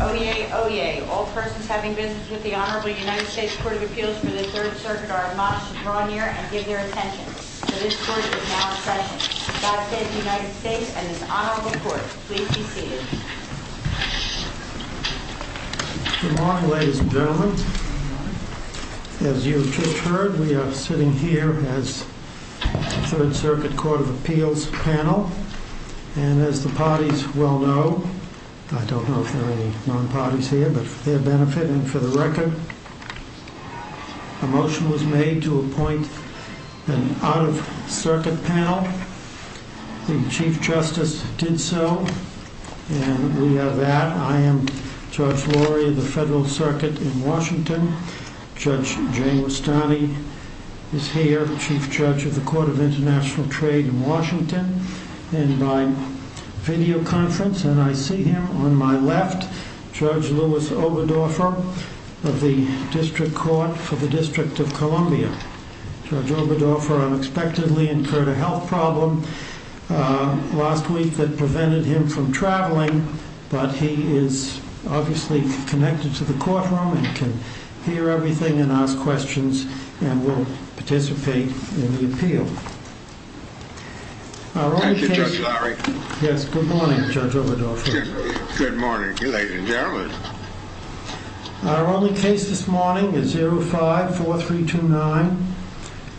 Oyez! Oyez! All persons having business with the Honorable United States Court of Appeals for the Third Circuit are admonished to draw near and give their attention, for this court is now in session. God save the United States and this Honorable Court. Please be seated. Good morning, ladies and gentlemen. As you have just heard, we are sitting here as the Third Circuit Court of Appeals panel, and as the parties well know, I don't know if there are any non-parties here, but for their benefit and for the record, a motion was made to appoint an out-of-circuit panel. The Chief Justice did so, and we have that. I am Judge Laurie of the Federal Circuit in Washington. Judge Jane Westani is here, Chief Judge of the Court of International Trade in Washington. And my videoconference, and I see him on my left, Judge Louis Oberdorfer of the District Court for the District of Columbia. Judge Oberdorfer unexpectedly incurred a health problem last week that prevented him from traveling, but he is obviously connected to the courtroom and can hear everything and ask questions and will participate in the appeal. Thank you, Judge Laurie. Yes, good morning, Judge Oberdorfer. Good morning, ladies and gentlemen. Our only case this morning is 05-4329,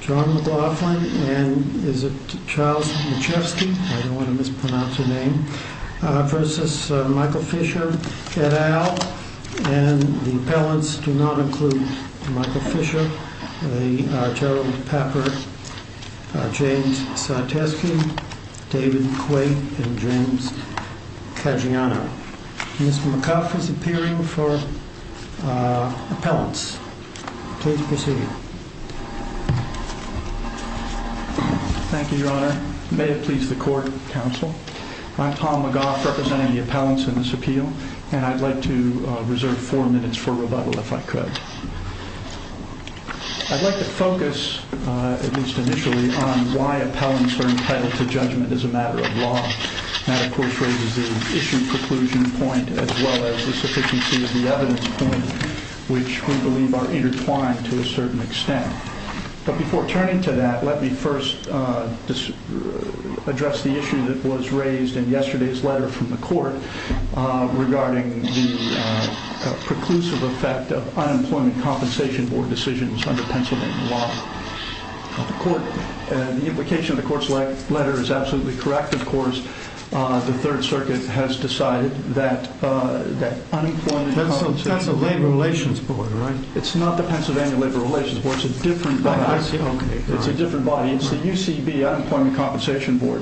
John McLaughlin v. Michael Fisher, et al., and the appellants do not include Michael Fisher, Gerald Papert, James Sarteski, David Quaid, and James Caggiano. Mr. McLaughlin is appearing for appellants. Please proceed. Thank you, Your Honor. May it please the court, counsel. I'm Tom McLaugh representing the appellants in this appeal, and I'd like to reserve four minutes for rebuttal if I could. I'd like to focus, at least initially, on why appellants are entitled to judgment as a matter of law. That, of course, raises the issue preclusion point as well as the sufficiency of the evidence point, which we believe are intertwined to a certain extent. But before turning to that, let me first address the issue that was raised in yesterday's letter from the court regarding the preclusive effect of Unemployment Compensation Board decisions under Pennsylvania law. The implication of the court's letter is absolutely correct, of course. The Third Circuit has decided that Unemployment Compensation Board… That's the Labor Relations Board, right? It's not the Pennsylvania Labor Relations Board. It's a different body. It's the UCB Unemployment Compensation Board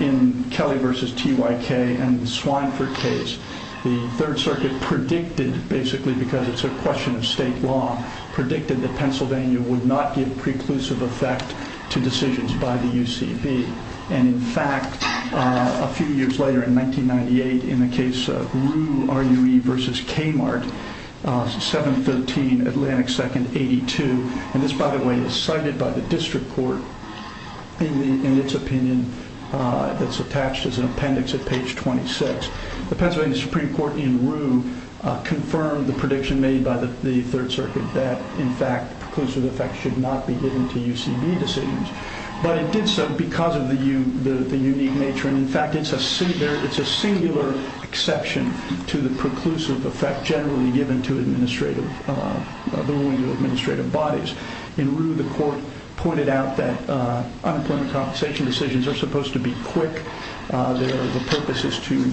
in Kelly v. TYK and the Swineford case. The Third Circuit predicted, basically because it's a question of state law, predicted that Pennsylvania would not give preclusive effect to decisions by the UCB. And, in fact, a few years later, in 1998, in the case of Rue v. Kmart, 7-13 Atlantic 2nd 82, and this, by the way, is cited by the district court in its opinion that's attached as an appendix at page 26. The Pennsylvania Supreme Court in Rue confirmed the prediction made by the Third Circuit that, in fact, preclusive effect should not be given to UCB decisions. But it did so because of the unique nature, and, in fact, it's a singular exception to the preclusive effect generally given to the ruling of administrative bodies. In Rue, the court pointed out that unemployment compensation decisions are supposed to be quick. Their purpose is to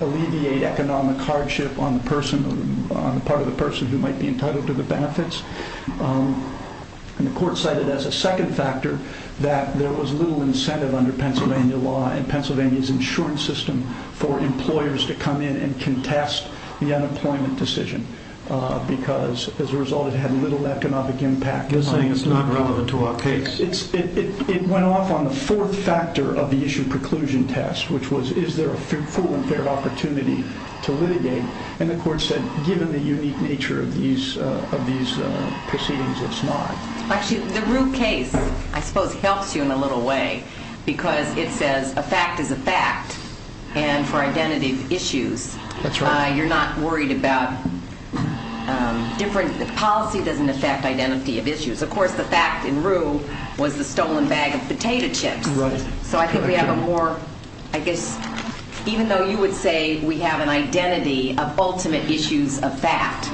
alleviate economic hardship on the part of the person who might be entitled to the benefits. The court cited as a second factor that there was little incentive under Pennsylvania law and Pennsylvania's insurance system for employers to come in and contest the unemployment decision because, as a result, it had little economic impact. It's not relevant to our case. It went off on the fourth factor of the issue preclusion test, which was is there a full and fair opportunity to litigate? And the court said, given the unique nature of these proceedings, it's not. Actually, the Rue case, I suppose, helps you in a little way because it says a fact is a fact. And for identity issues, you're not worried about different policy doesn't affect identity of issues. Of course, the fact in Rue was the stolen bag of potato chips. Right. So I think we have a more, I guess, even though you would say we have an identity of ultimate issues of fact,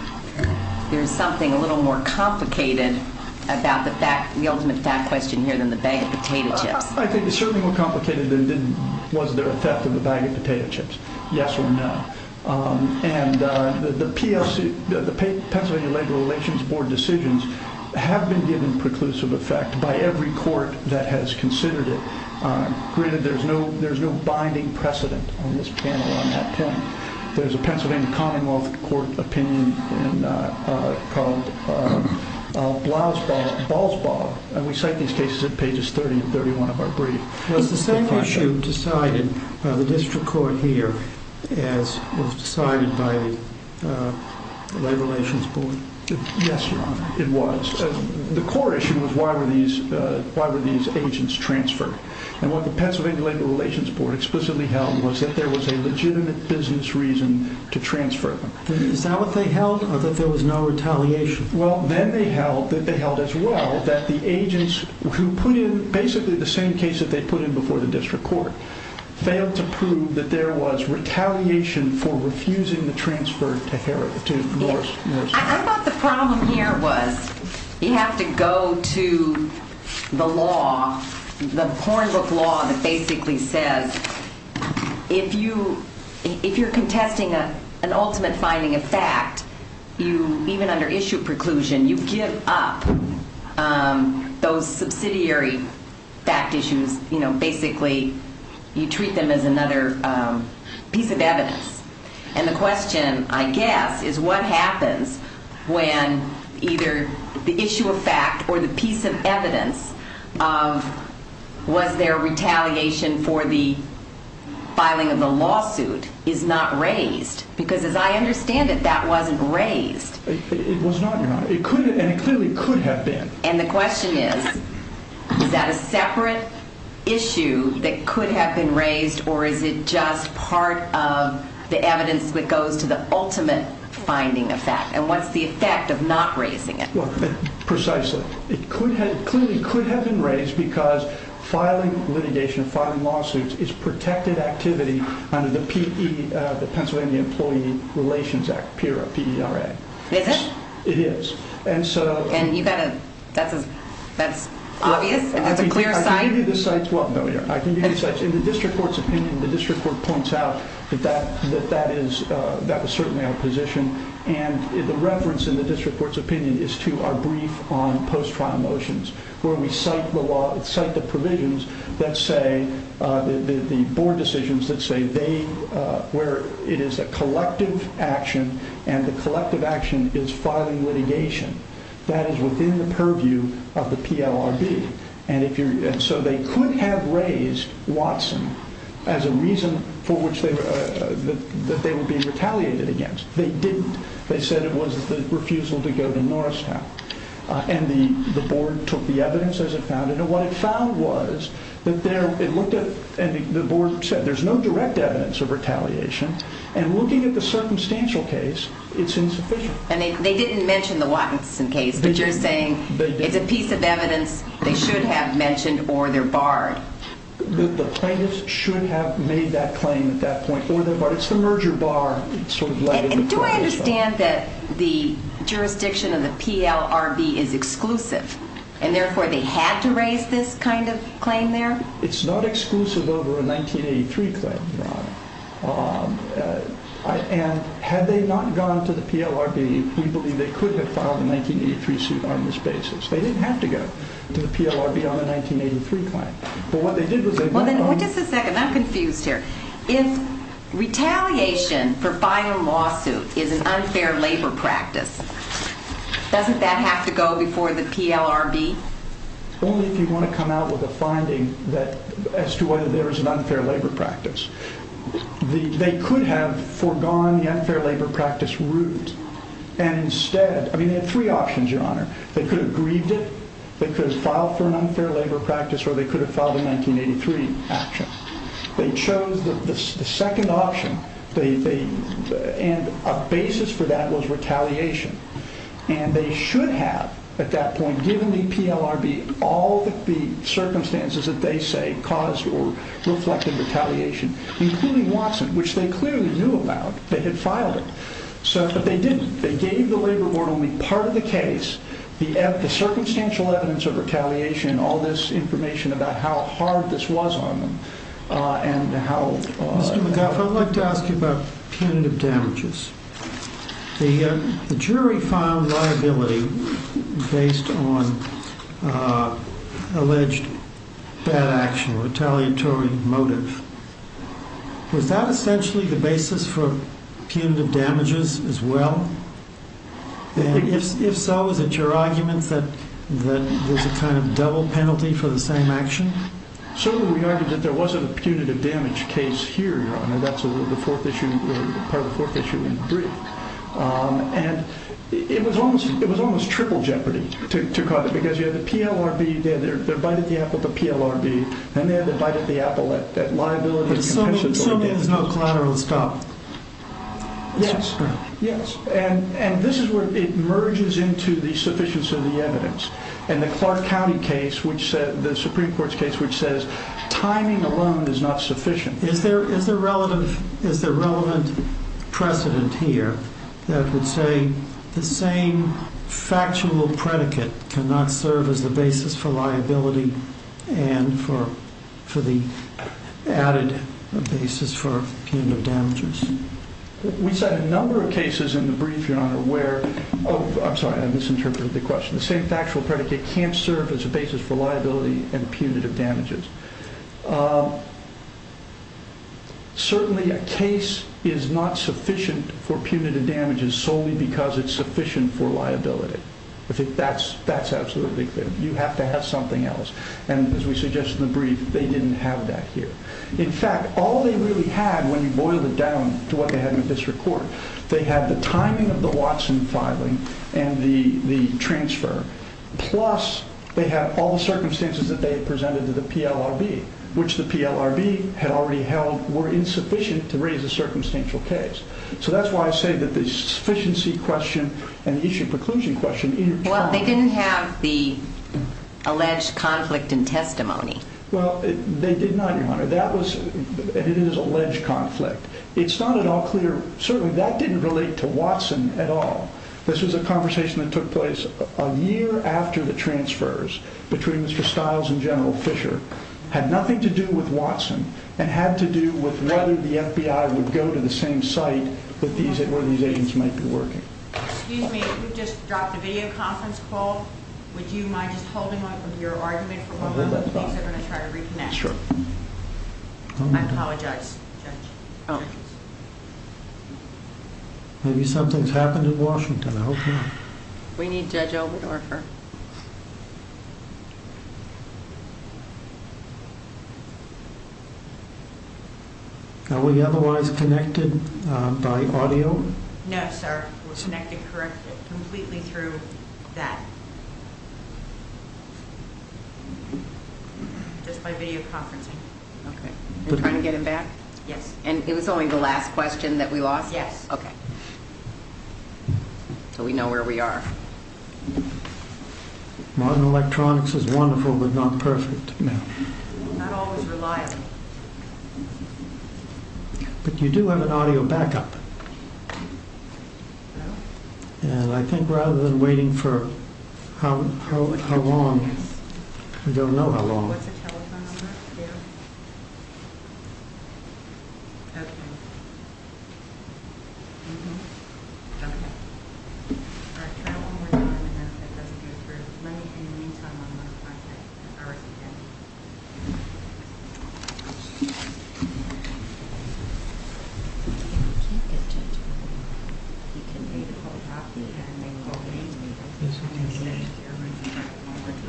there's something a little more complicated about the ultimate fact question here than the bag of potato chips. I think it's certainly more complicated than was there a theft of the bag of potato chips. Yes or no. And the PFC, the Pennsylvania Labor Relations Board decisions have been given preclusive effect by every court that has considered it. There's no there's no binding precedent on this panel on that point. There's a Pennsylvania Commonwealth Court opinion called Blau's Ball. And we cite these cases at pages 30 and 31 of our brief. Was the same issue decided by the district court here as was decided by the Labor Relations Board? Yes, it was. The core issue was why were these why were these agents transferred? And what the Pennsylvania Labor Relations Board explicitly held was that there was a legitimate business reason to transfer them. Is that what they held or that there was no retaliation? Well, then they held that they held as well that the agents who put in basically the same case that they put in before the district court failed to prove that there was retaliation for refusing the transfer to Harris to Morris. I thought the problem here was you have to go to the law, the point of law that basically says if you if you're contesting an ultimate finding of fact, you even under issue preclusion, you give up those subsidiary fact issues. You know, basically you treat them as another piece of evidence. And the question, I guess, is what happens when either the issue of fact or the piece of evidence of was there retaliation for the filing of the lawsuit is not raised? Because as I understand it, that wasn't raised. It was not, Your Honor. And it clearly could have been. And the question is, is that a separate issue that could have been raised or is it just part of the evidence that goes to the ultimate finding of fact? And what's the effect of not raising it? Precisely. It clearly could have been raised because filing litigation, filing lawsuits is protected activity under the Pennsylvania Employee Relations Act, PERA. Is it? It is. And so. And you got it. That's that's obvious. That's a clear sign. I can give you the sites. Well, I can give you the sites. In the district court's opinion, the district court points out that that that that is that was certainly our position. And the reference in the district court's opinion is to our brief on post-trial motions where we cite the law, cite the provisions that say the board decisions that say they were. It is a collective action and the collective action is filing litigation that is within the purview of the PLRB. And if you're so they could have raised Watson as a reason for which they were that they would be retaliated against. They didn't. They said it was the refusal to go to Norristown. And the board took the evidence as it found it. What it found was that they looked at and the board said there's no direct evidence of retaliation. And looking at the circumstantial case, it's insufficient. And they didn't mention the Watson case. But you're saying it's a piece of evidence they should have mentioned or they're barred. The plaintiffs should have made that claim at that point. But it's the merger bar. Do I understand that the jurisdiction of the PLRB is exclusive and therefore they had to raise this kind of claim there? It's not exclusive over a 1983 claim, Your Honor. And had they not gone to the PLRB, we believe they could have filed a 1983 suit on this basis. They didn't have to go to the PLRB on a 1983 claim. But what they did was they went on. Wait just a second. I'm confused here. If retaliation for buying a lawsuit is an unfair labor practice, doesn't that have to go before the PLRB? Only if you want to come out with a finding as to whether there is an unfair labor practice. They could have foregone the unfair labor practice route. And instead, I mean they had three options, Your Honor. They could have grieved it. They could have filed for an unfair labor practice or they could have filed a 1983 action. They chose the second option. And a basis for that was retaliation. And they should have at that point given the PLRB all the circumstances that they say caused or reflected retaliation, including Watson, which they clearly knew about. They had filed it. But they didn't. They gave the labor board only part of the case, the circumstantial evidence of retaliation, all this information about how hard this was on them and how. Mr. McGuff, I'd like to ask you about punitive damages. The jury filed liability based on alleged bad action, retaliatory motive. Was that essentially the basis for punitive damages as well? If so, is it your argument that there's a kind of double penalty for the same action? Certainly we argued that there wasn't a punitive damage case here, Your Honor. That's the fourth issue, part of the fourth issue in the brief. And it was almost triple jeopardy to cause it because you had the PLRB there. They're biting the apple at the PLRB. And they're biting the apple at liability. So there's no collateral to stop. Yes. Yes. And this is where it merges into the sufficiency of the evidence. In the Clark County case, the Supreme Court's case, which says timing alone is not sufficient. Is there relevant precedent here that would say the same factual predicate cannot serve as the basis for liability and for the added basis for punitive damages? We said a number of cases in the brief, Your Honor, where—oh, I'm sorry, I misinterpreted the question. The same factual predicate can't serve as a basis for liability and punitive damages. Certainly a case is not sufficient for punitive damages solely because it's sufficient for liability. That's absolutely clear. You have to have something else. And as we suggest in the brief, they didn't have that here. In fact, all they really had, when you boil it down to what they had in the district court, they had the timing of the Watson filing and the transfer, plus they had all the circumstances that they had presented to the PLRB, which the PLRB had already held were insufficient to raise a circumstantial case. So that's why I say that the sufficiency question and the issue of preclusion question— Well, they did not, Your Honor. That was—and it is alleged conflict. It's not at all clear—certainly that didn't relate to Watson at all. This was a conversation that took place a year after the transfers between Mr. Stiles and General Fischer had nothing to do with Watson and had to do with whether the FBI would go to the same site that these—where these agents might be working. Excuse me, we just dropped a video conference call. Would you mind just holding on to your argument for a moment, please? I'm going to try to reconnect. Sure. I apologize, Judge. Okay. Maybe something's happened in Washington. I hope not. We need Judge Oberdorfer. Are we otherwise connected by audio? No, sir. We're connected—corrected completely through that. Just by video conferencing. Okay. Are you trying to get him back? Yes. And it was only the last question that we lost? Yes. Okay. So we know where we are. Modern electronics is wonderful, but not perfect. Not always reliable. But you do have an audio backup. Hello? And I think rather than waiting for how long, we don't know how long. What's the telephone number? Yeah. Okay. Mm-hmm. Okay. All right, try one more time, and then let's go through. Let me, in the meantime, I'm going to find it. All right. Okay. We can't get Judge Oberdorfer. He can make a whole copy. Yes, we can do that. That's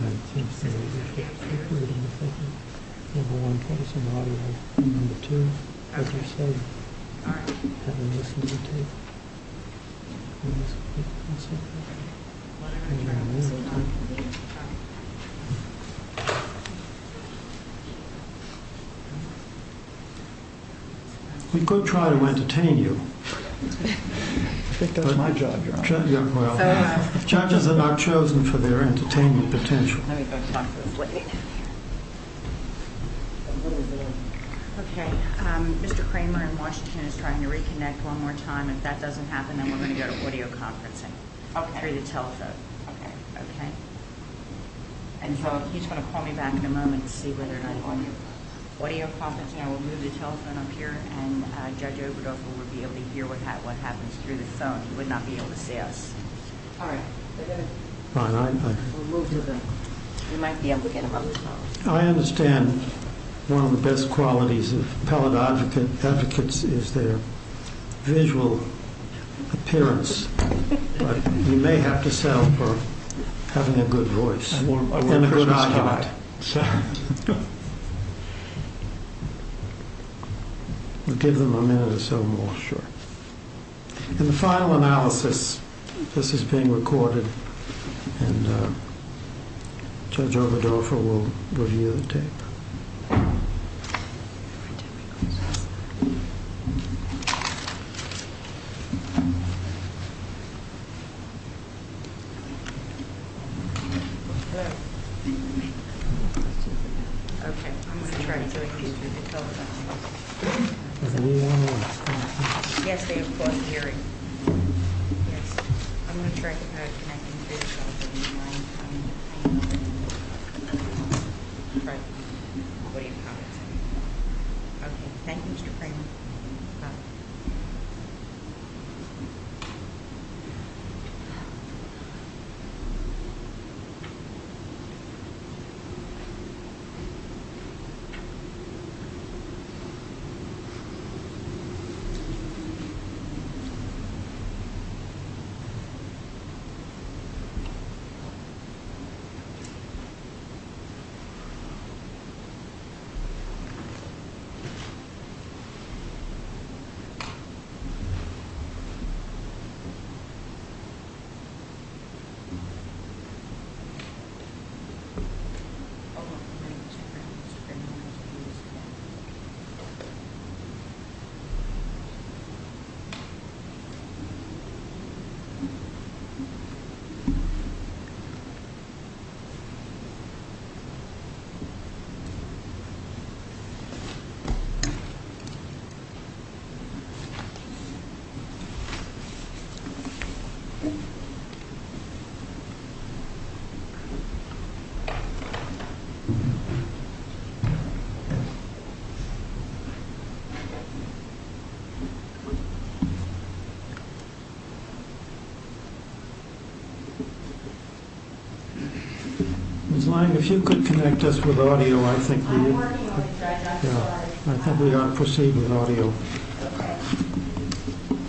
fine. We have a one person audio. Number two, as you said. All right. Have him listen to the tape. One second. We could try to entertain you. I think that's my job, Your Honor. Judges are not chosen for their entertainment potential. Let me go talk to this lady. Okay. Mr. Kramer in Washington is trying to reconnect one more time. If that doesn't happen, then we're going to go to audio conferencing. Okay. Through the telephone. Okay. Okay? And he's going to call me back in a moment to see whether or not I'm on you. Audio conferencing, I will move the telephone up here, and Judge Oberdorfer will be able to hear what happens through the phone. He would not be able to see us. All right. We'll move to the... You might be able to get him on the phone. I understand one of the best qualities of appellate advocates is their visual appearance. But you may have to settle for having a good voice. And a good eye. We'll give them a minute or so more. Sure. In the final analysis, this is being recorded, and Judge Oberdorfer will review the tape. Okay. Okay. I'm going to try to get through the telephone. Yes, they have caught hearing. Yes. I'm going to try to connect him through the telephone. I'm trying to find him. What do you have to say? Okay. Thank you, Mr. Cramer. Bye. Okay. Ms. Lang, if you could connect us with audio, I think we would... I'm working on it, Judge. I'm sorry. I think we are proceeding with audio. Okay. Okay. Okay. Okay. Okay.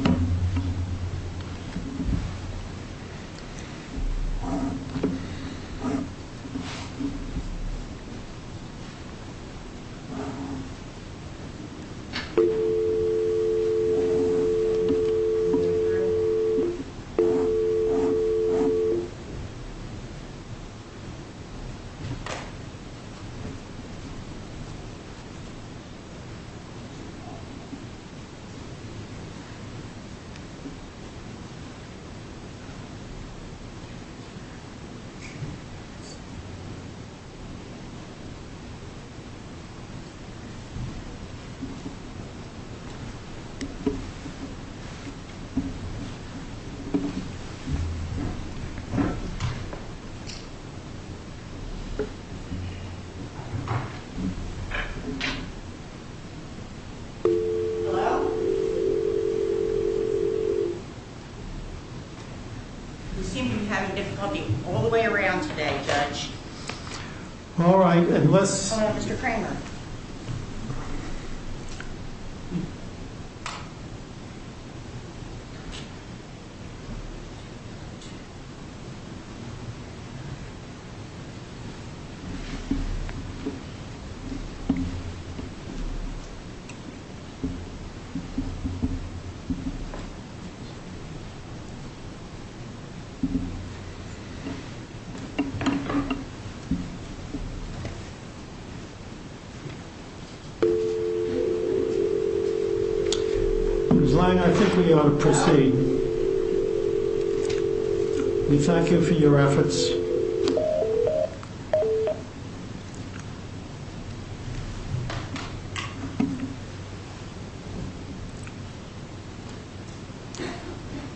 Okay. Okay. Okay. Okay. Okay. Okay. Thank you very much for the presentation. Thanks. Goodbye. Goodbye. Thank you. Bye-bye. Goodbye. Goodbye. Goodbye. Hello? You seem to be having difficulty all the way around today, Judge. All right, and let's... Hello, Mr. Cramer. You seem to be having difficulty all the way around today, Judge. All right. Goodbye. Goodbye. Goodbye. Goodbye. Goodbye. Goodbye. Goodbye. Goodbye. Goodbye. Ms. Lyon, I think we ought to proceed. We thank you for your efforts.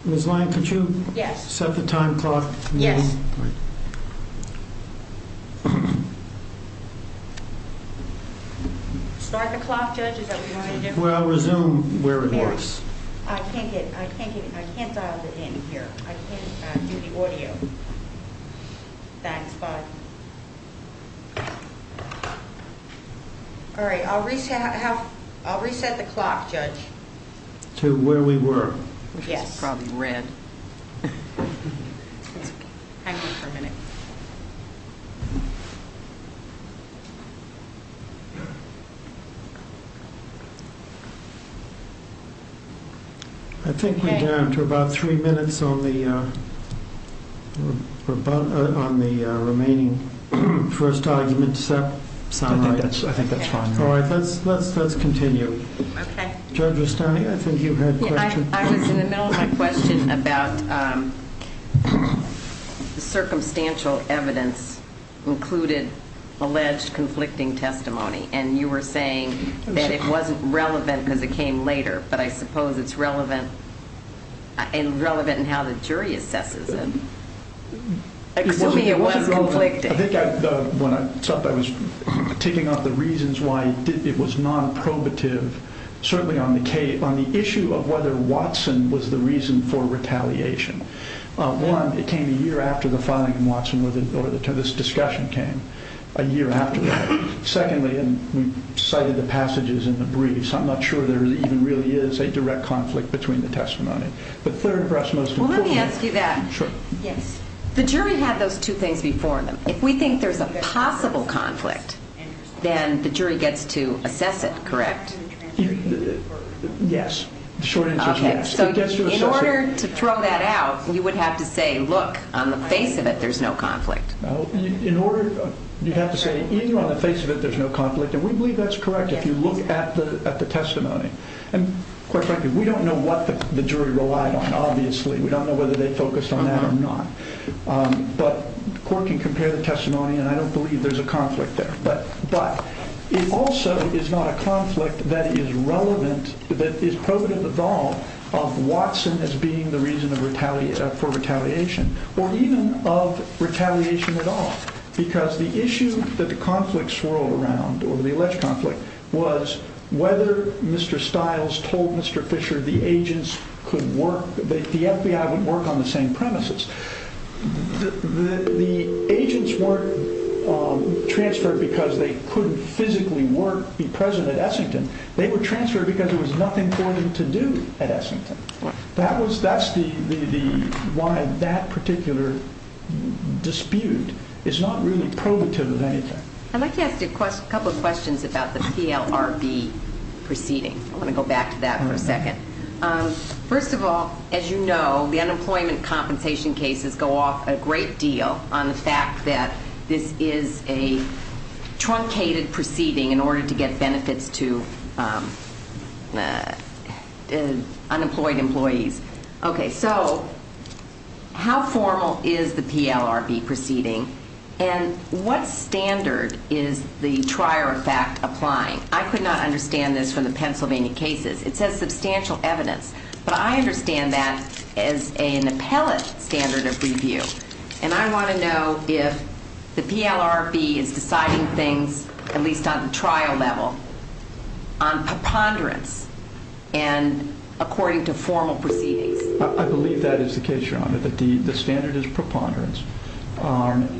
Ms. Lyon, could you... Yes. ...set the time clock? Yes. All right. Start the clock, Judge? Is that what you want me to do? Well, resume where it was. Here. I can't get it. I can't get it. I can't dial it in here. I can't do the audio. Thanks. Bye. All right. I'll reset... I'll reset the clock, Judge. To where we were. Yes. It's probably red. It's okay. Hang on for a minute. I think we're down to about three minutes on the remaining first argument. Does that sound right? I think that's fine. All right. Let's continue. Okay. Judge Rustani, I think you had a question. I was in the middle of my question about circumstantial evidence included alleged conflicting testimony. And you were saying that it wasn't relevant because it came later. But I suppose it's relevant in how the jury assesses it. Excuse me, it was conflicting. I think when I stopped, I was taking off the reasons why it was non-probative. Certainly on the issue of whether Watson was the reason for retaliation. One, it came a year after the filing of Watson or this discussion came, a year after that. Secondly, and we cited the passages in the briefs, I'm not sure there even really is a direct conflict between the testimony. But third for us, most importantly... Well, let me ask you that. Sure. Yes. The jury had those two things before them. If we think there's a possible conflict, then the jury gets to assess it, correct? Yes. The short answer is yes. Okay. So in order to throw that out, you would have to say, look, on the face of it, there's no conflict. In order, you'd have to say, in or on the face of it, there's no conflict. And we believe that's correct if you look at the testimony. And quite frankly, we don't know what the jury relied on, obviously. We don't know whether they focused on that or not. But the court can compare the testimony, and I don't believe there's a conflict there. But it also is not a conflict that is relevant, that is provative at all, of Watson as being the reason for retaliation, or even of retaliation at all. Because the issue that the conflict swirled around, or the alleged conflict, was whether Mr. Stiles told Mr. Fisher the agents could work, the FBI would work on the same premises. The agents weren't transferred because they couldn't physically work, be present at Essington. They were transferred because there was nothing for them to do at Essington. That's why that particular dispute is not really provative of anything. I'd like to ask you a couple of questions about the PLRB proceeding. I want to go back to that for a second. First of all, as you know, the unemployment compensation cases go off a great deal on the fact that this is a truncated proceeding in order to get benefits to unemployed employees. Okay, so how formal is the PLRB proceeding, and what standard is the trier effect applying? I could not understand this from the Pennsylvania cases. It says substantial evidence, but I understand that as an appellate standard of review. And I want to know if the PLRB is deciding things, at least on the trial level, on preponderance and according to formal proceedings. I believe that is the case, Your Honor, that the standard is preponderance.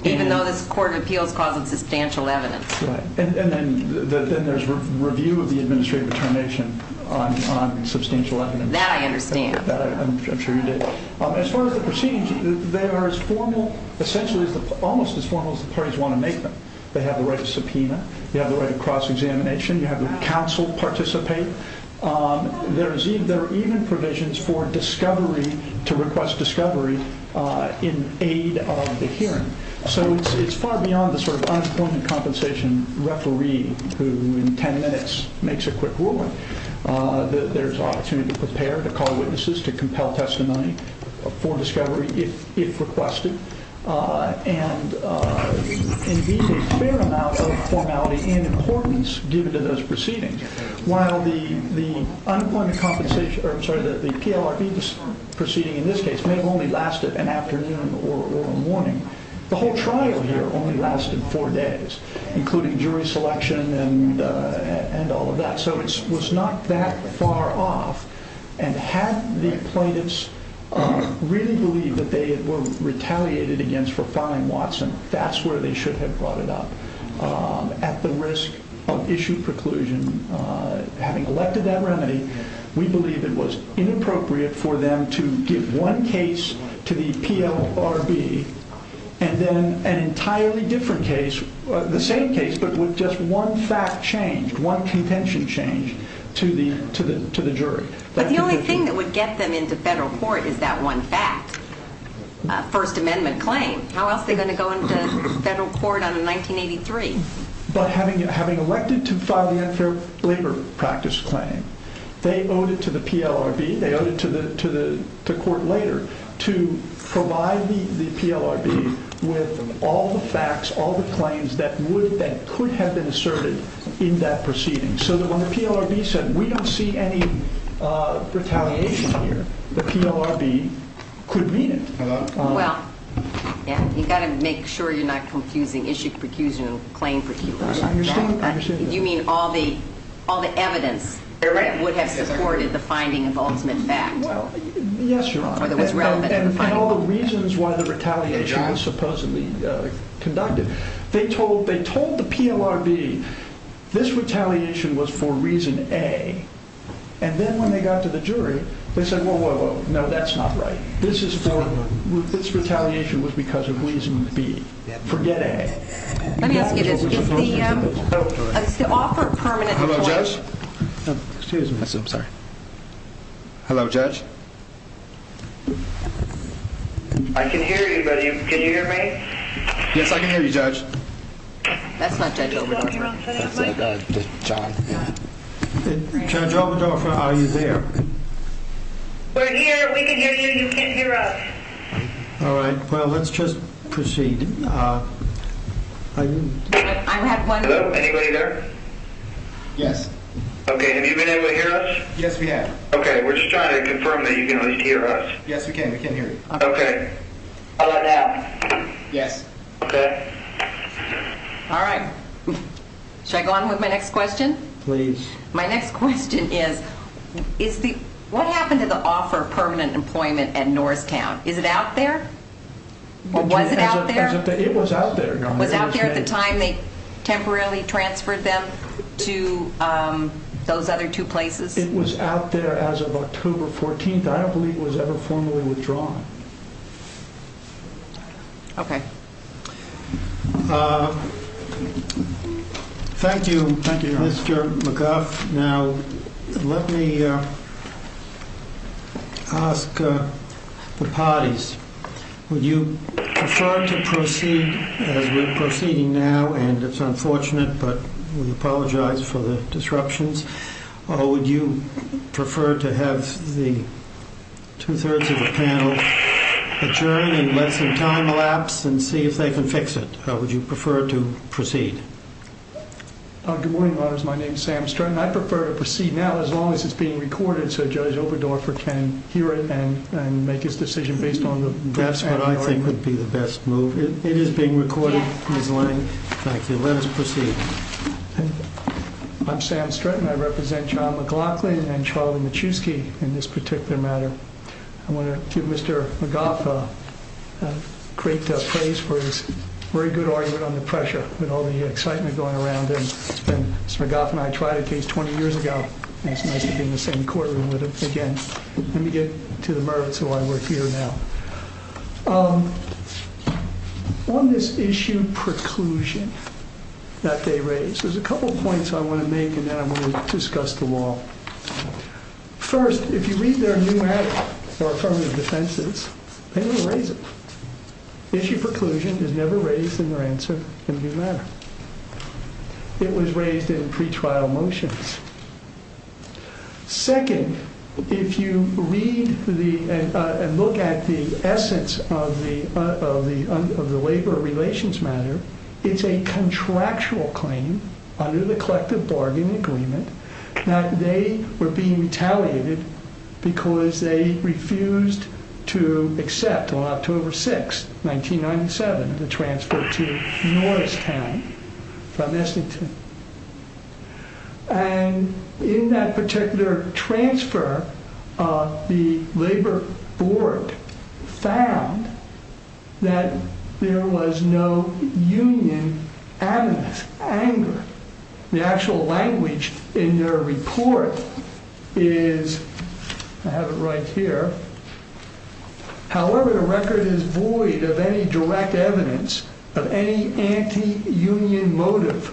Even though this Court of Appeals calls it substantial evidence. Right, and then there's review of the administrative determination on substantial evidence. That I understand. I'm sure you do. As far as the proceedings, they are as formal, essentially almost as formal as the parties want to make them. They have the right to subpoena. They have the right to cross-examination. You have the counsel participate. There are even provisions for discovery, to request discovery in aid of the hearing. So it's far beyond the sort of unemployment compensation referee who, in ten minutes, makes a quick ruling. There's opportunity to prepare, to call witnesses, to compel testimony for discovery if requested. And indeed, a fair amount of formality and importance given to those proceedings. While the PLRB proceeding in this case may have only lasted an afternoon or a morning, the whole trial here only lasted four days, including jury selection and all of that. So it was not that far off. And had the plaintiffs really believed that they were retaliated against for filing Watson, that's where they should have brought it up, at the risk of issue preclusion. Having elected that remedy, we believe it was inappropriate for them to give one case to the PLRB and then an entirely different case, the same case, but with just one fact changed, one contention changed to the jury. But the only thing that would get them into federal court is that one fact, a First Amendment claim. How else are they going to go into federal court on a 1983? But having elected to file the unfair labor practice claim, they owed it to the PLRB, they owed it to the court later, to provide the PLRB with all the facts, all the claims that could have been asserted in that proceeding, so that when the PLRB said, we don't see any retaliation here, the PLRB could mean it. Well, you've got to make sure you're not confusing issue preclusion and claim preclusion. I understand that. You mean all the evidence that would have supported the finding of ultimate fact? Well, yes, Your Honor. And all the reasons why the retaliation was supposedly conducted. They told the PLRB, this retaliation was for reason A. And then when they got to the jury, they said, whoa, whoa, whoa, no, that's not right. This retaliation was because of reason B. Forget A. Let me ask you this. Is the offer permanent? Hello, Judge? Excuse me. I'm sorry. Hello, Judge? I can hear you, but can you hear me? Yes, I can hear you, Judge. That's not Judge Oberdorfer. That's not Judge Oberdorfer. Judge Oberdorfer, are you there? We're here. We can hear you. You can't hear us. All right. Well, let's just proceed. I have one. Hello? Anybody there? Yes. Okay. Have you been able to hear us? Yes, we have. Okay. We're just trying to confirm that you can at least hear us. Yes, we can. We can hear you. Okay. How about now? Yes. Okay. All right. Should I go on with my next question? Please. My next question is, what happened to the offer of permanent employment at Norristown? Is it out there? Or was it out there? It was out there. Was it out there at the time they temporarily transferred them to those other two places? It was out there as of October 14th. I don't believe it was ever formally withdrawn. Okay. Thank you, Mr. McGuff. Now, let me ask the parties, would you prefer to proceed as we're proceeding now? And it's unfortunate, but we apologize for the disruptions. Would you prefer to have the two-thirds of the panel adjourn and let some time elapse and see if they can fix it? Or would you prefer to proceed? Good morning, Your Honors. My name is Sam Stratton. I prefer to proceed now as long as it's being recorded so Judge Oberdorfer can hear it and make his decision based on the facts. That's what I think would be the best move. It is being recorded, Ms. Lang. Thank you. Let us proceed. I'm Sam Stratton. I represent John McLaughlin and Charlie Michewski in this particular matter. I want to give Mr. McGuff great praise for his very good argument on the pressure with all the excitement going around. And Mr. McGuff and I tried a case 20 years ago. It's nice to be in the same courtroom with him again. Let me get to the merits of why we're here now. On this issue preclusion that they raised, there's a couple of points I want to make and then I want to discuss the law. First, if you read their new act or affirmative defenses, they don't raise it. Issue preclusion is never raised in their answer in the new matter. It was raised in pretrial motions. Second, if you read and look at the essence of the labor relations matter, it's a contractual claim under the collective bargain agreement. Now, they were being retaliated because they refused to accept on October 6, 1997, the transfer to Norristown from Essington. And in that particular transfer, the labor board found that there was no union anger. The actual language in their report is I have it right here. However, the record is void of any direct evidence of any anti union motive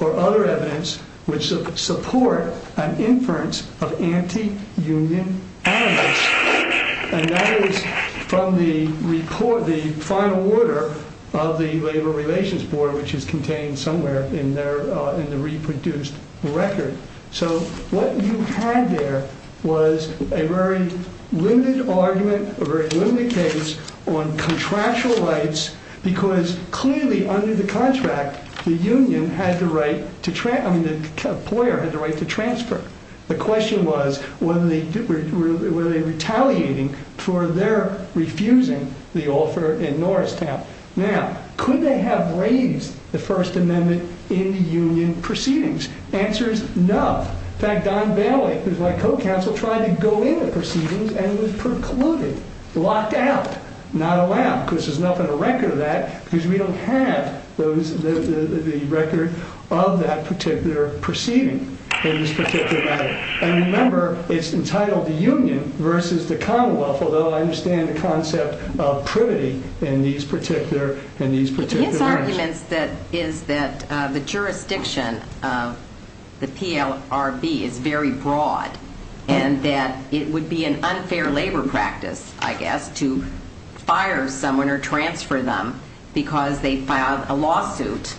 or other evidence which support an inference of anti union. And that is from the report, the final order of the Labor Relations Board, which is contained somewhere in there in the reproduced record. So what you had there was a very limited argument, a very limited case on contractual rights, because clearly under the contract, the union had the right to try. I mean, the employer had the right to transfer. The question was whether they were really retaliating for their refusing the offer in Norristown. Now, could they have raised the First Amendment in the union proceedings? The answer is no. In fact, Don Bailey, who's my co-counsel, tried to go in the proceedings and was precluded, locked out, not allowed, because there's nothing to record that, because we don't have the record of that particular proceeding in this particular matter. And remember, it's entitled the union versus the Commonwealth, although I understand the concept of privity in these particular matters. But his argument is that the jurisdiction of the PLRB is very broad and that it would be an unfair labor practice, I guess, to fire someone or transfer them because they filed a lawsuit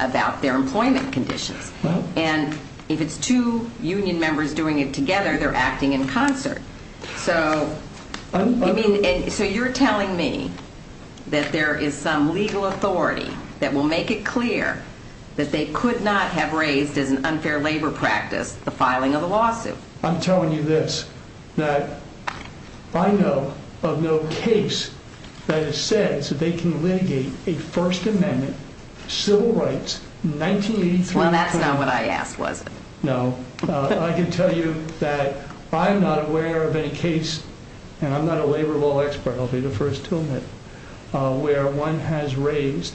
about their employment conditions. And if it's two union members doing it together, they're acting in concert. So you're telling me that there is some legal authority that will make it clear that they could not have raised as an unfair labor practice the filing of a lawsuit? I'm telling you this, that I know of no case that it says that they can litigate a First Amendment civil rights 1983. Well, that's not what I asked, was it? No. I can tell you that I'm not aware of any case, and I'm not a labor law expert, I'll be the first to admit, where one has raised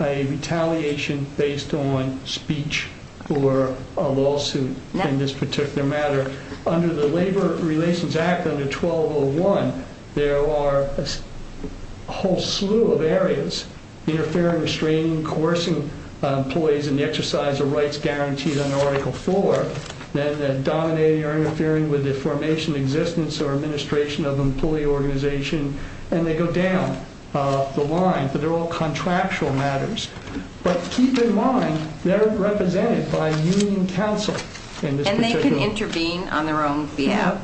a retaliation based on speech or a lawsuit in this particular matter. Under the Labor Relations Act under 1201, there are a whole slew of areas, interfering, restraining, coercing employees in the exercise of rights guaranteed under Article 4. Then dominating or interfering with the formation, existence, or administration of an employee organization. And they go down the line, but they're all contractual matters. But keep in mind, they're represented by union counsel in this particular case. They can intervene on their own behalf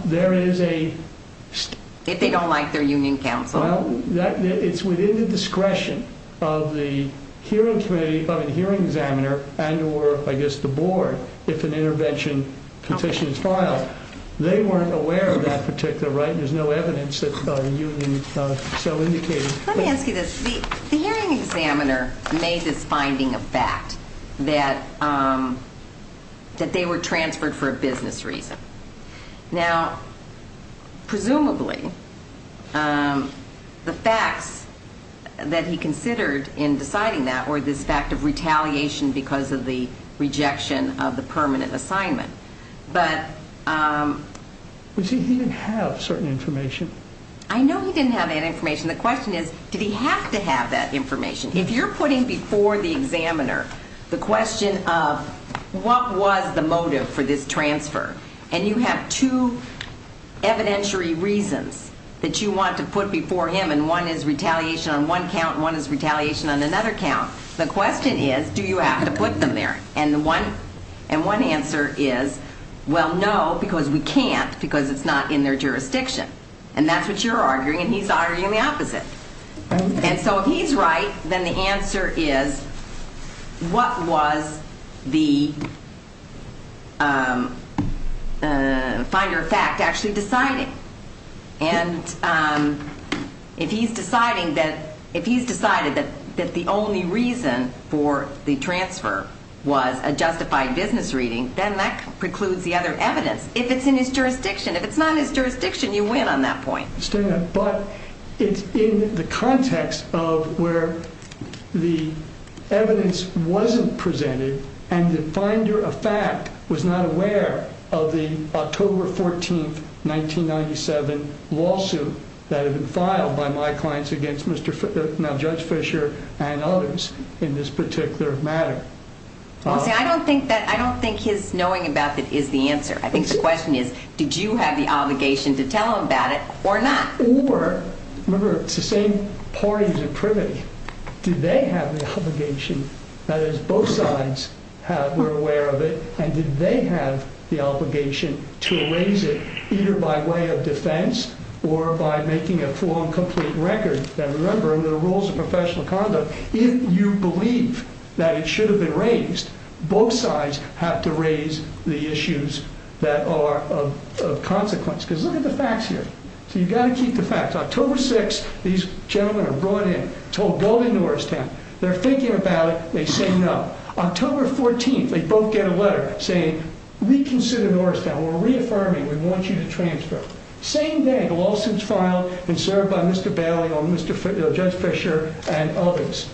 if they don't like their union counsel. Well, it's within the discretion of the hearing examiner and or, I guess, the board if an intervention petition is filed. They weren't aware of that particular right, and there's no evidence that the union so indicated. Let me ask you this. The hearing examiner made this finding of fact, that they were transferred for a business reason. Now, presumably, the facts that he considered in deciding that were this fact of retaliation because of the rejection of the permanent assignment. But... You see, he didn't have certain information. I know he didn't have that information. The question is, did he have to have that information? If you're putting before the examiner the question of what was the motive for this transfer, and you have two evidentiary reasons that you want to put before him, and one is retaliation on one count and one is retaliation on another count, the question is, do you have to put them there? And one answer is, well, no, because we can't because it's not in their jurisdiction. And that's what you're arguing, and he's arguing the opposite. And so if he's right, then the answer is, what was the finder of fact actually deciding? And if he's deciding that the only reason for the transfer was a justified business reading, then that precludes the other evidence. If it's in his jurisdiction. If it's not in his jurisdiction, you win on that point. But it's in the context of where the evidence wasn't presented and the finder of fact was not aware of the October 14, 1997 lawsuit that had been filed by my clients against Judge Fisher and others in this particular matter. I don't think his knowing about it is the answer. I think the question is, did you have the obligation to tell him about it or not? Or, remember, it's the same parties in privity. Did they have the obligation, that is, both sides were aware of it, and did they have the obligation to raise it either by way of defense or by making a full and complete record? Now, remember, under the rules of professional conduct, if you believe that it should have been raised, both sides have to raise the issues that are of consequence. Because look at the facts here. So you've got to keep the facts. October 6, these gentlemen are brought in, told, go to Norristown. They're thinking about it. They say no. October 14, they both get a letter saying, reconsider Norristown. We're reaffirming. We want you to transfer. Same day, the lawsuit's filed and served by Mr. Bailey or Judge Fisher and others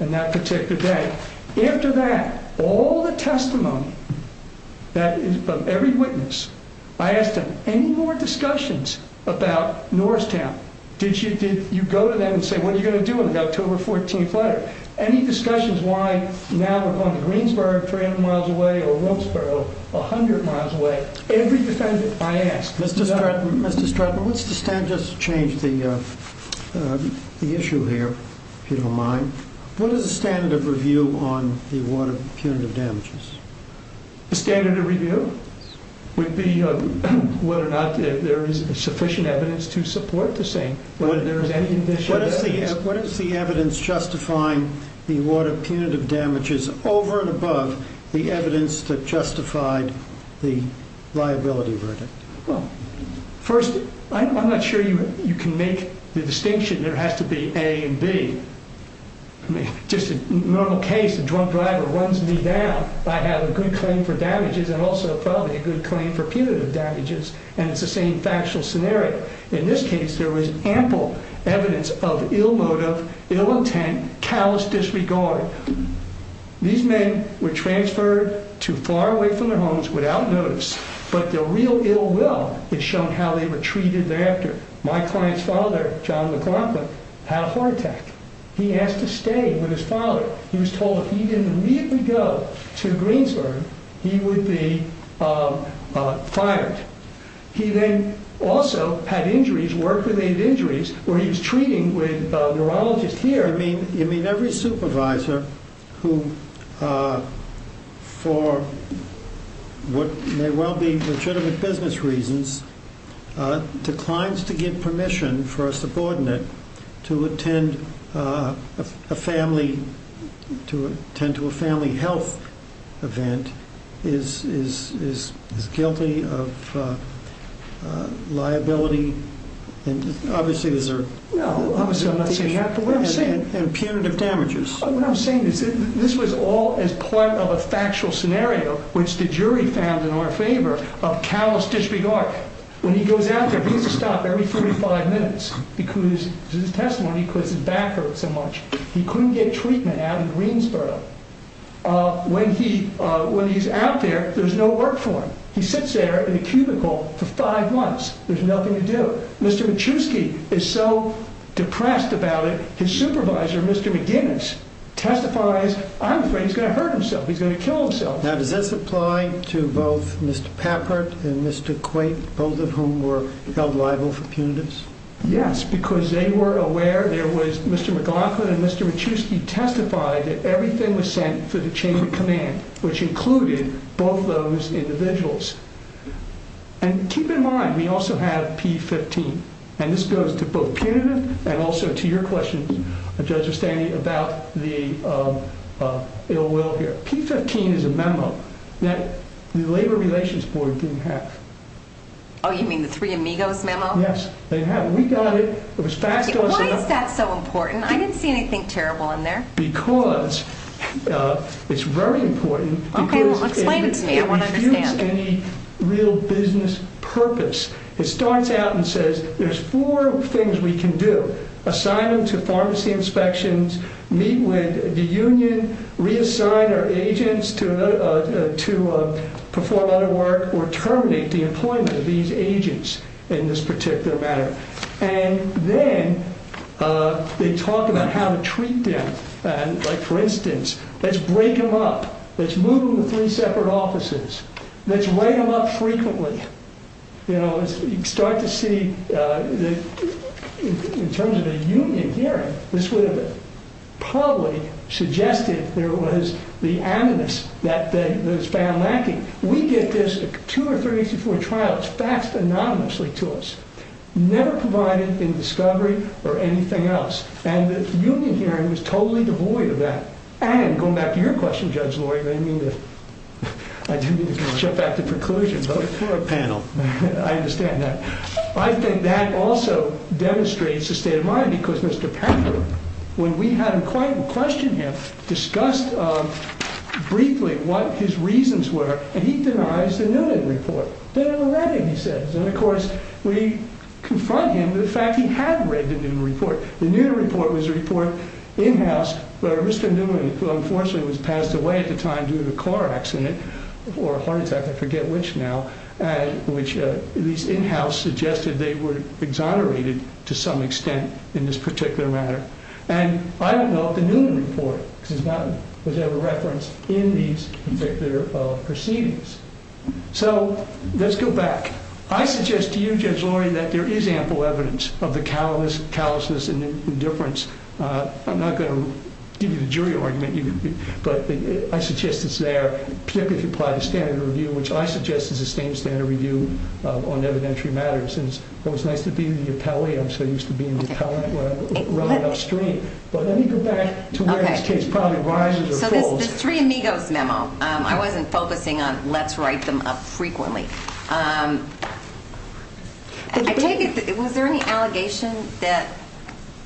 on that particular day. After that, all the testimony that is from every witness, I asked them, any more discussions about Norristown? Did you go to them and say, what are you going to do on the October 14th letter? Any discussions why now we're going to Greensboro, 300 miles away, or Williamsboro, 100 miles away? Every defendant I asked. Mr. Stratton, let's just change the issue here, if you don't mind. What is the standard of review on the award of punitive damages? The standard of review would be whether or not there is sufficient evidence to support the same. What is the evidence justifying the award of punitive damages over and above the evidence that justified the liability verdict? Well, first, I'm not sure you can make the distinction. There has to be A and B. Just a normal case, a drunk driver runs me down. I have a good claim for damages and also probably a good claim for punitive damages, and it's the same factual scenario. In this case, there was ample evidence of ill motive, ill intent, callous disregard. These men were transferred to far away from their homes without notice, but their real ill will is shown how they were treated thereafter. My client's father, John McLaughlin, had a heart attack. He asked to stay with his father. He was told if he didn't immediately go to Greensboro, he would be fired. He then also had injuries, work-related injuries, where he was treating with a neurologist here. You mean every supervisor who, for what may well be legitimate business reasons, declines to give permission for a subordinate to attend to a family health event is guilty of liability? No, obviously I'm not saying that, but what I'm saying is this was all as part of a factual scenario which the jury found in our favor of callous disregard. When he goes out there, he has to stop every 45 minutes because his back hurts so much. He couldn't get treatment out of Greensboro. When he's out there, there's no work for him. He sits there in a cubicle for five months. There's nothing to do. Mr. Michewski is so depressed about it, his supervisor, Mr. McGinnis, testifies, I'm afraid he's going to hurt himself. He's going to kill himself. Now does this apply to both Mr. Papert and Mr. Quaint, both of whom were held liable for punitives? Yes, because they were aware there was Mr. McLaughlin and Mr. Michewski testified that everything was sent for the chain of command, which included both those individuals. And keep in mind, we also have P-15. And this goes to both punitive and also to your question, Judge O'Stanley, about the ill will here. P-15 is a memo that the Labor Relations Board didn't have. Oh, you mean the Three Amigos memo? Yes, they didn't have it. We got it. Why is that so important? I didn't see anything terrible in there. Okay, well explain it to me. I want to understand. Like, for instance, let's break them up. Let's move them to three separate offices. Let's write them up frequently. You know, you start to see, in terms of a union hearing, this would have probably suggested there was the animus that was found lacking. We get this two or three days before a trial. It's faxed anonymously to us. Never provided in discovery or anything else. And the union hearing was totally devoid of that. And, going back to your question, Judge Lori, I do need to jump back to preclusions. We're a panel. I understand that. I think that also demonstrates the state of mind because Mr. Pepper, when we had him questioned him, discussed briefly what his reasons were, and he denies the Noonan report. Then in a letter he says, and of course we confront him with the fact he had read the Noonan report. The Noonan report was a report in-house where Mr. Noonan, who unfortunately was passed away at the time due to a car accident, or a heart attack, I forget which now, which these in-house suggested they were exonerated to some extent in this particular matter. And I don't know if the Noonan report was ever referenced in these particular proceedings. So, let's go back. I suggest to you, Judge Lori, that there is ample evidence of the callousness and indifference. I'm not going to give you the jury argument, but I suggest it's there, particularly if you apply the standard review, which I suggest is a sustained standard review on evidentiary matters. It was nice to be in the appellate. I'm so used to being in the appellate when I'm running upstream. But let me go back to where this case probably rises or falls. The Three Amigos memo. I wasn't focusing on let's write them up frequently. Was there any allegation that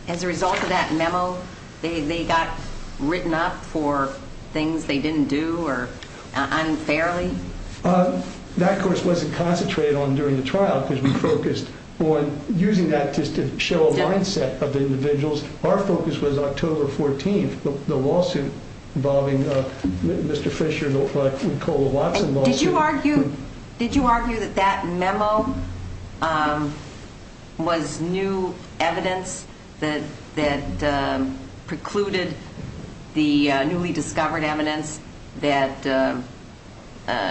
as a result of that memo they got written up for things they didn't do or unfairly? That, of course, wasn't concentrated on during the trial because we focused on using that just to show a mindset of the individuals. Our focus was October 14th, the lawsuit involving Mr. Fisher, what we call the Watson lawsuit. Did you argue that that memo was new evidence that precluded the newly discovered evidence that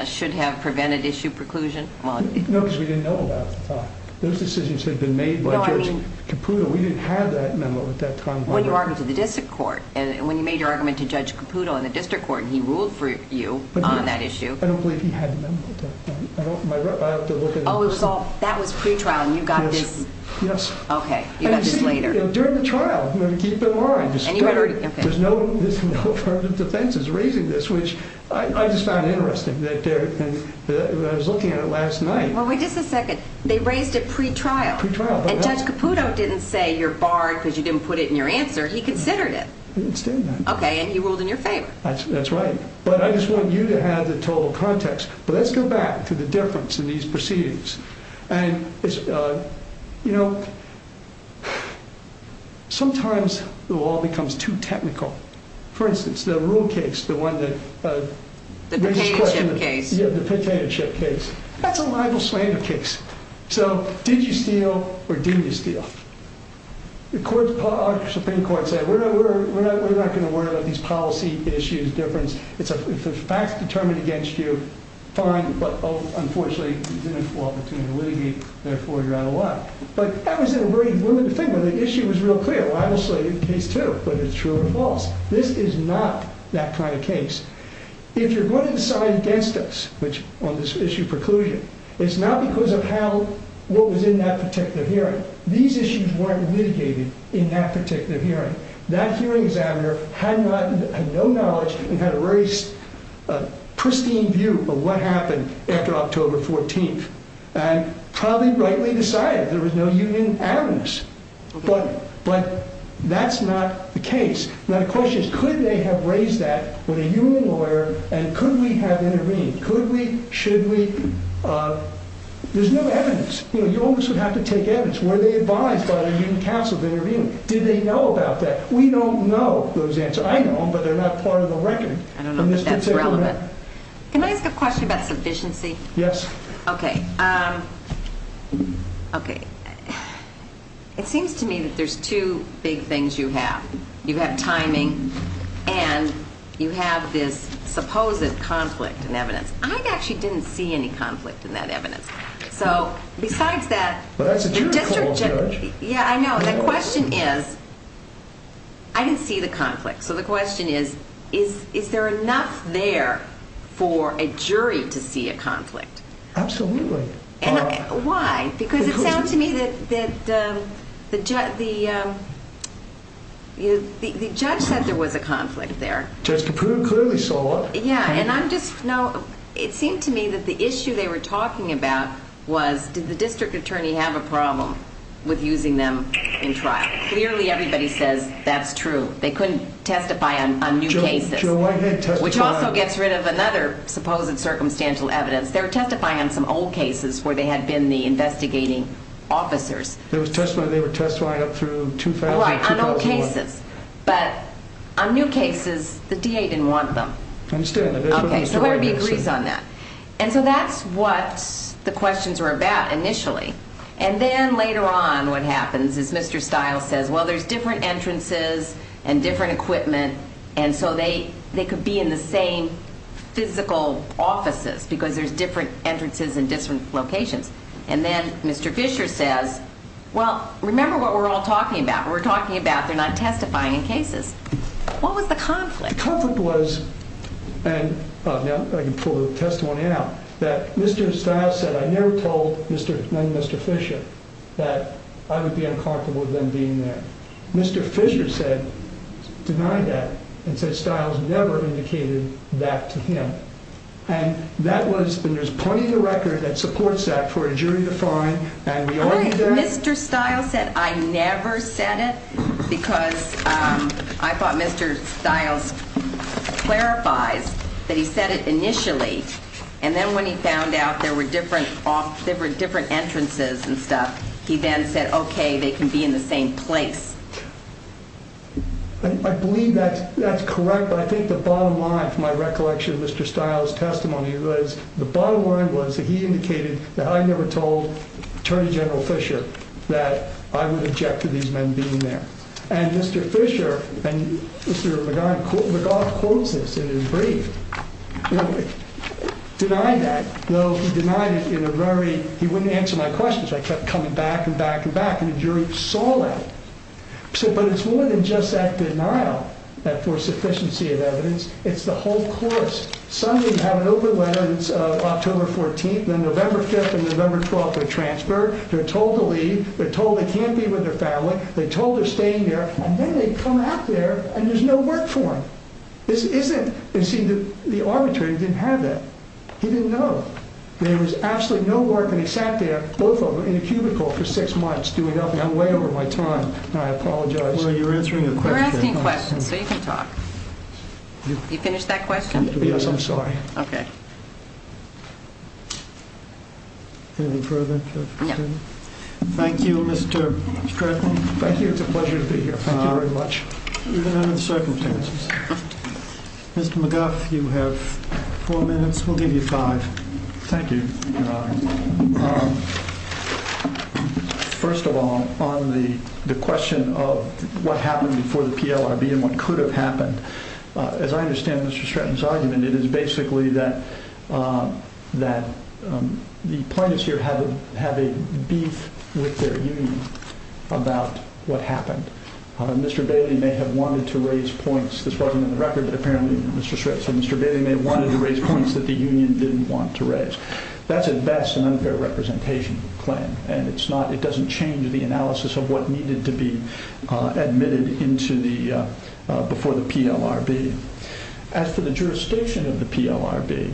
should have prevented issue preclusion? No, because we didn't know about it at the time. Those decisions had been made by Judge Caputo. We didn't have that memo at that time. When you argued to the district court. When you made your argument to Judge Caputo in the district court and he ruled for you on that issue. I don't believe he had the memo at that time. Oh, that was pre-trial and you got this? Yes. Okay. You got this later. During the trial. I'm going to keep it long. There's no further defenses raising this, which I just found interesting. Wait just a second. They raised it pre-trial. Pre-trial. And Judge Caputo didn't say you're barred because you didn't put it in your answer. He considered it. I didn't say that. Okay. And he ruled in your favor. That's right. But I just want you to have the total context. But let's go back to the difference in these proceedings. And, you know, sometimes the law becomes too technical. For instance, the Ruhl case, the one that raises the question. The Petainenship case. Yeah, the Petainenship case. That's a libel slander case. So did you steal or did you steal? The Supreme Court said we're not going to worry about these policy issues, difference. If the fact's determined against you, fine. But, unfortunately, you didn't have the opportunity to litigate. Therefore, you're out of line. But that was a very limited thing. The issue was real clear. A libel slander case, too. But it's true or false. This is not that kind of case. If you're going to decide against us on this issue of preclusion, it's not because of what was in that particular hearing. These issues weren't litigated in that particular hearing. That hearing examiner had no knowledge and had a very pristine view of what happened after October 14th. And probably rightly decided there was no union in this. But that's not the case. Now, the question is, could they have raised that with a union lawyer? And could we have intervened? Could we? Should we? There's no evidence. You always would have to take evidence. Were they advised by the union counsel to intervene? Did they know about that? We don't know those answers. I know them, but they're not part of the record. I don't know that that's relevant. Can I ask a question about sufficiency? Yes. Okay. It seems to me that there's two big things you have. You have timing, and you have this supposed conflict in evidence. I actually didn't see any conflict in that evidence. So besides that, the question is, I didn't see the conflict. So the question is, is there enough there for a jury to see a conflict? Absolutely. Why? Because it sounds to me that the judge said there was a conflict there. Judge Caputo clearly saw it. Yeah. And I'm just now, it seemed to me that the issue they were talking about was, did the district attorney have a problem with using them in trial? Clearly, everybody says that's true. They couldn't testify on new cases. Which also gets rid of another supposed circumstantial evidence. They were testifying on some old cases where they had been the investigating officers. They were testifying up through 2000, 2001. Right, on old cases. But on new cases, the DA didn't want them. I understand. Okay, so everybody agrees on that. And so that's what the questions were about initially. And then later on what happens is Mr. Stiles says, well, there's different entrances and different equipment, and so they could be in the same physical offices because there's different entrances and different locations. And then Mr. Fisher says, well, remember what we're all talking about. We're talking about they're not testifying in cases. What was the conflict? The conflict was, and now I can pull the testimony out, that Mr. Stiles said, I never told none of Mr. Fisher that I would be uncomfortable with them being there. Mr. Fisher said, denied that, and said Stiles never indicated that to him. And that was, and there's plenty of record that supports that for a jury to find. All right, Mr. Stiles said, I never said it, because I thought Mr. Stiles clarifies that he said it initially, and then when he found out there were different entrances and stuff, he then said, okay, they can be in the same place. I believe that's correct, but I think the bottom line from my recollection of Mr. Stiles' testimony was, the bottom line was that he indicated that I never told Attorney General Fisher that I would object to these men being there. And Mr. Fisher, and Mr. McGaugh quotes this in his brief, denied that, though he denied it in a very, he wouldn't answer my questions, I kept coming back and back and back, and the jury saw that. But it's more than just that denial for sufficiency of evidence, it's the whole course. Some of them have an open letter, it's October 14th, then November 5th and November 12th they're transferred, they're told to leave, they're told they can't be with their family, they're told they're staying there, and then they come out there and there's no work for them. This isn't, and see, the arbitrator didn't have that. He didn't know. There was absolutely no work, and he sat there, both of them, in a cubicle for six months doing nothing. I'm way over my time, and I apologize. Well, you're answering a question. You're asking a question, so you can talk. You finished that question? Yes, I'm sorry. Okay. Anything further? No. Thank you, Mr. Stratton. Thank you, it's a pleasure to be here. Thank you very much. Even under the circumstances. Mr. McGuff, you have four minutes, we'll give you five. Thank you, Your Honor. First of all, on the question of what happened before the PLRB and what could have happened, as I understand Mr. Stratton's argument, it is basically that the plaintiffs here have a beef with their union about what happened. Mr. Bailey may have wanted to raise points. This wasn't in the record, but apparently Mr. Stratton and Mr. Bailey may have wanted to raise points that the union didn't want to raise. That's at best an unfair representation claim, and it doesn't change the analysis of what needed to be admitted before the PLRB. As for the jurisdiction of the PLRB,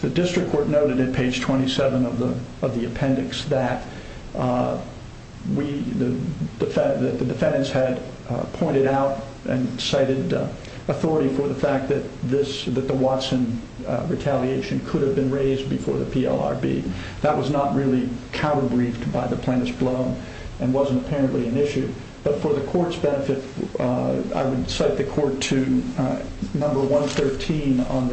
the district court noted at page 27 of the appendix that the defendants had pointed out and cited authority for the fact that the Watson retaliation could have been raised before the PLRB. That was not really counter-briefed by the plaintiffs alone and wasn't apparently an issue. For the court's benefit, I would cite the court to number 113 on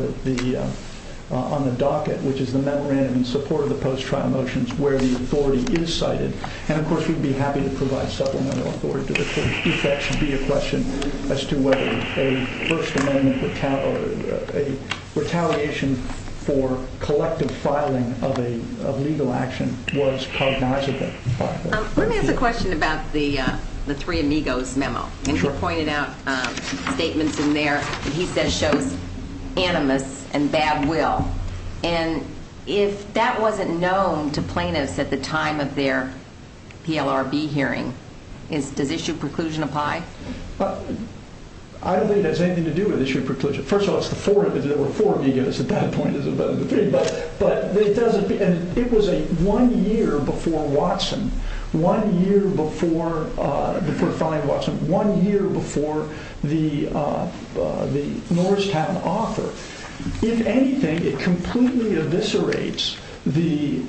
the docket, which is the memorandum in support of the post-trial motions where the authority is cited. Of course, we'd be happy to provide supplemental authority to the court if that should be a question as to whether a retaliation for collective filing of a legal action was cognizable. Let me ask a question about the Three Amigos memo. You pointed out statements in there that he says show animus and bad will. If that wasn't known to plaintiffs at the time of their PLRB hearing, does issue preclusion apply? I don't think it has anything to do with issue preclusion. First of all, there were four Amigos at that point. It was one year before Watson, one year before the Norristown offer. If anything, it completely eviscerates the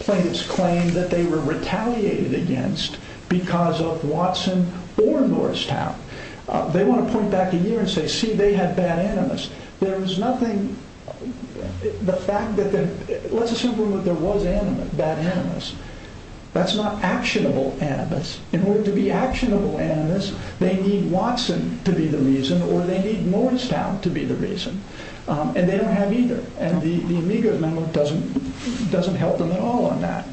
plaintiffs' claim that they were retaliated against because of Watson or Norristown. They want to point back a year and say, see, they had bad animus. Let's assume that there was bad animus. That's not actionable animus. In order to be actionable animus, they need Watson to be the reason or they need Norristown to be the reason, and they don't have either. The Amigos memo doesn't help them at all on that.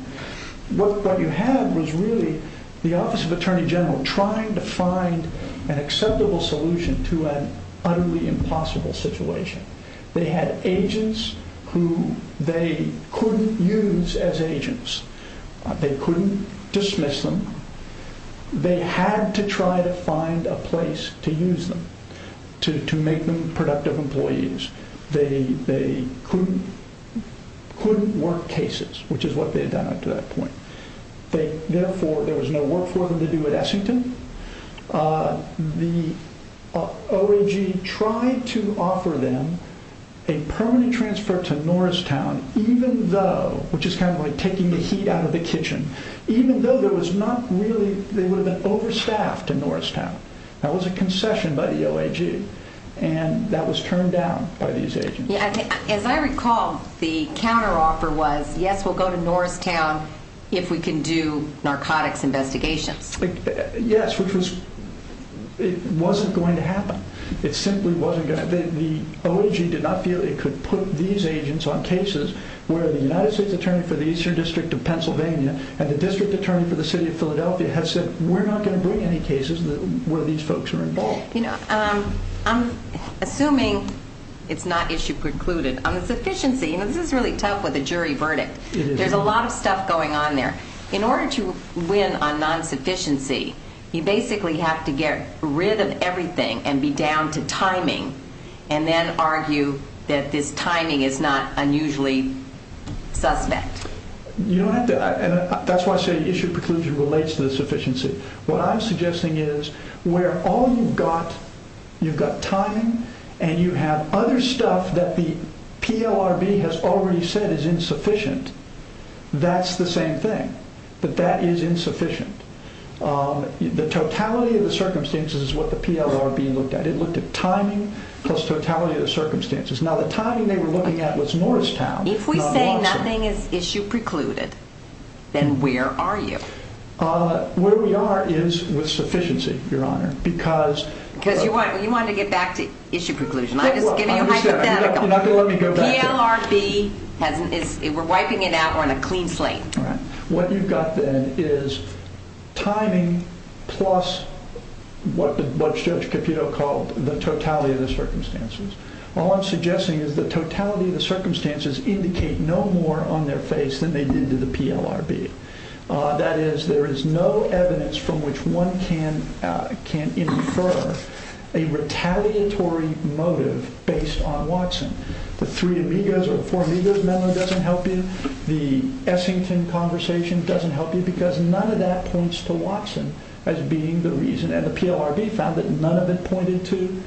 What you had was really the Office of Attorney General trying to find an acceptable solution to an utterly impossible situation. They had agents who they couldn't use as agents. They couldn't dismiss them. They had to try to find a place to use them, to make them productive employees. They couldn't work cases, which is what they had done up to that point. Therefore, there was no work for them to do at Essington. The OAG tried to offer them a permanent transfer to Norristown, which is kind of like taking the heat out of the kitchen, even though they would have been overstaffed to Norristown. That was a concession by the OAG, and that was turned down by these agents. As I recall, the counteroffer was, yes, we'll go to Norristown if we can do narcotics investigations. Yes, which wasn't going to happen. The OAG did not feel it could put these agents on cases where the United States Attorney for the Eastern District of Pennsylvania and the District Attorney for the City of Philadelphia had said, we're not going to bring any cases where these folks are involved. I'm assuming it's not issue precluded. On the sufficiency, this is really tough with a jury verdict. There's a lot of stuff going on there. In order to win on non-sufficiency, you basically have to get rid of everything and be down to timing and then argue that this timing is not unusually suspect. That's why I say issue preclusion relates to the sufficiency. What I'm suggesting is where all you've got, you've got timing, and you have other stuff that the PLRB has already said is insufficient. That's the same thing, that that is insufficient. The totality of the circumstances is what the PLRB looked at. It looked at timing plus totality of the circumstances. Now, the timing they were looking at was Norristown. If we say nothing is issue precluded, then where are you? Where we are is with sufficiency, Your Honor. Because you want to get back to issue preclusion. I'm just giving you a hypothetical. You're not going to let me go back to it. The PLRB, we're wiping it out on a clean slate. What you've got then is timing plus what Judge Caputo called the totality of the circumstances. All I'm suggesting is the totality of the circumstances indicate no more on their face than they did to the PLRB. That is, there is no evidence from which one can infer a retaliatory motive based on Watson. The three amigos or four amigos memo doesn't help you. The Essington conversation doesn't help you because none of that points to Watson as being the reason. And the PLRB found that none of it pointed to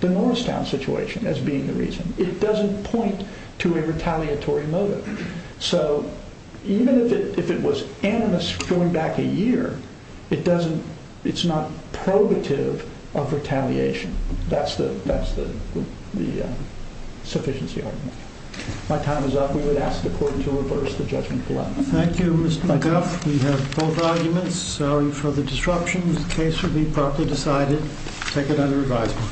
the Norristown situation as being the reason. It doesn't point to a retaliatory motive. So even if it was animus going back a year, it's not probative of retaliation. That's the sufficiency argument. My time is up. We would ask the court to reverse the judgment below. Thank you, Mr. McGuff. We have both arguments. Sorry for the disruption. The case will be properly decided. Take it under advisement.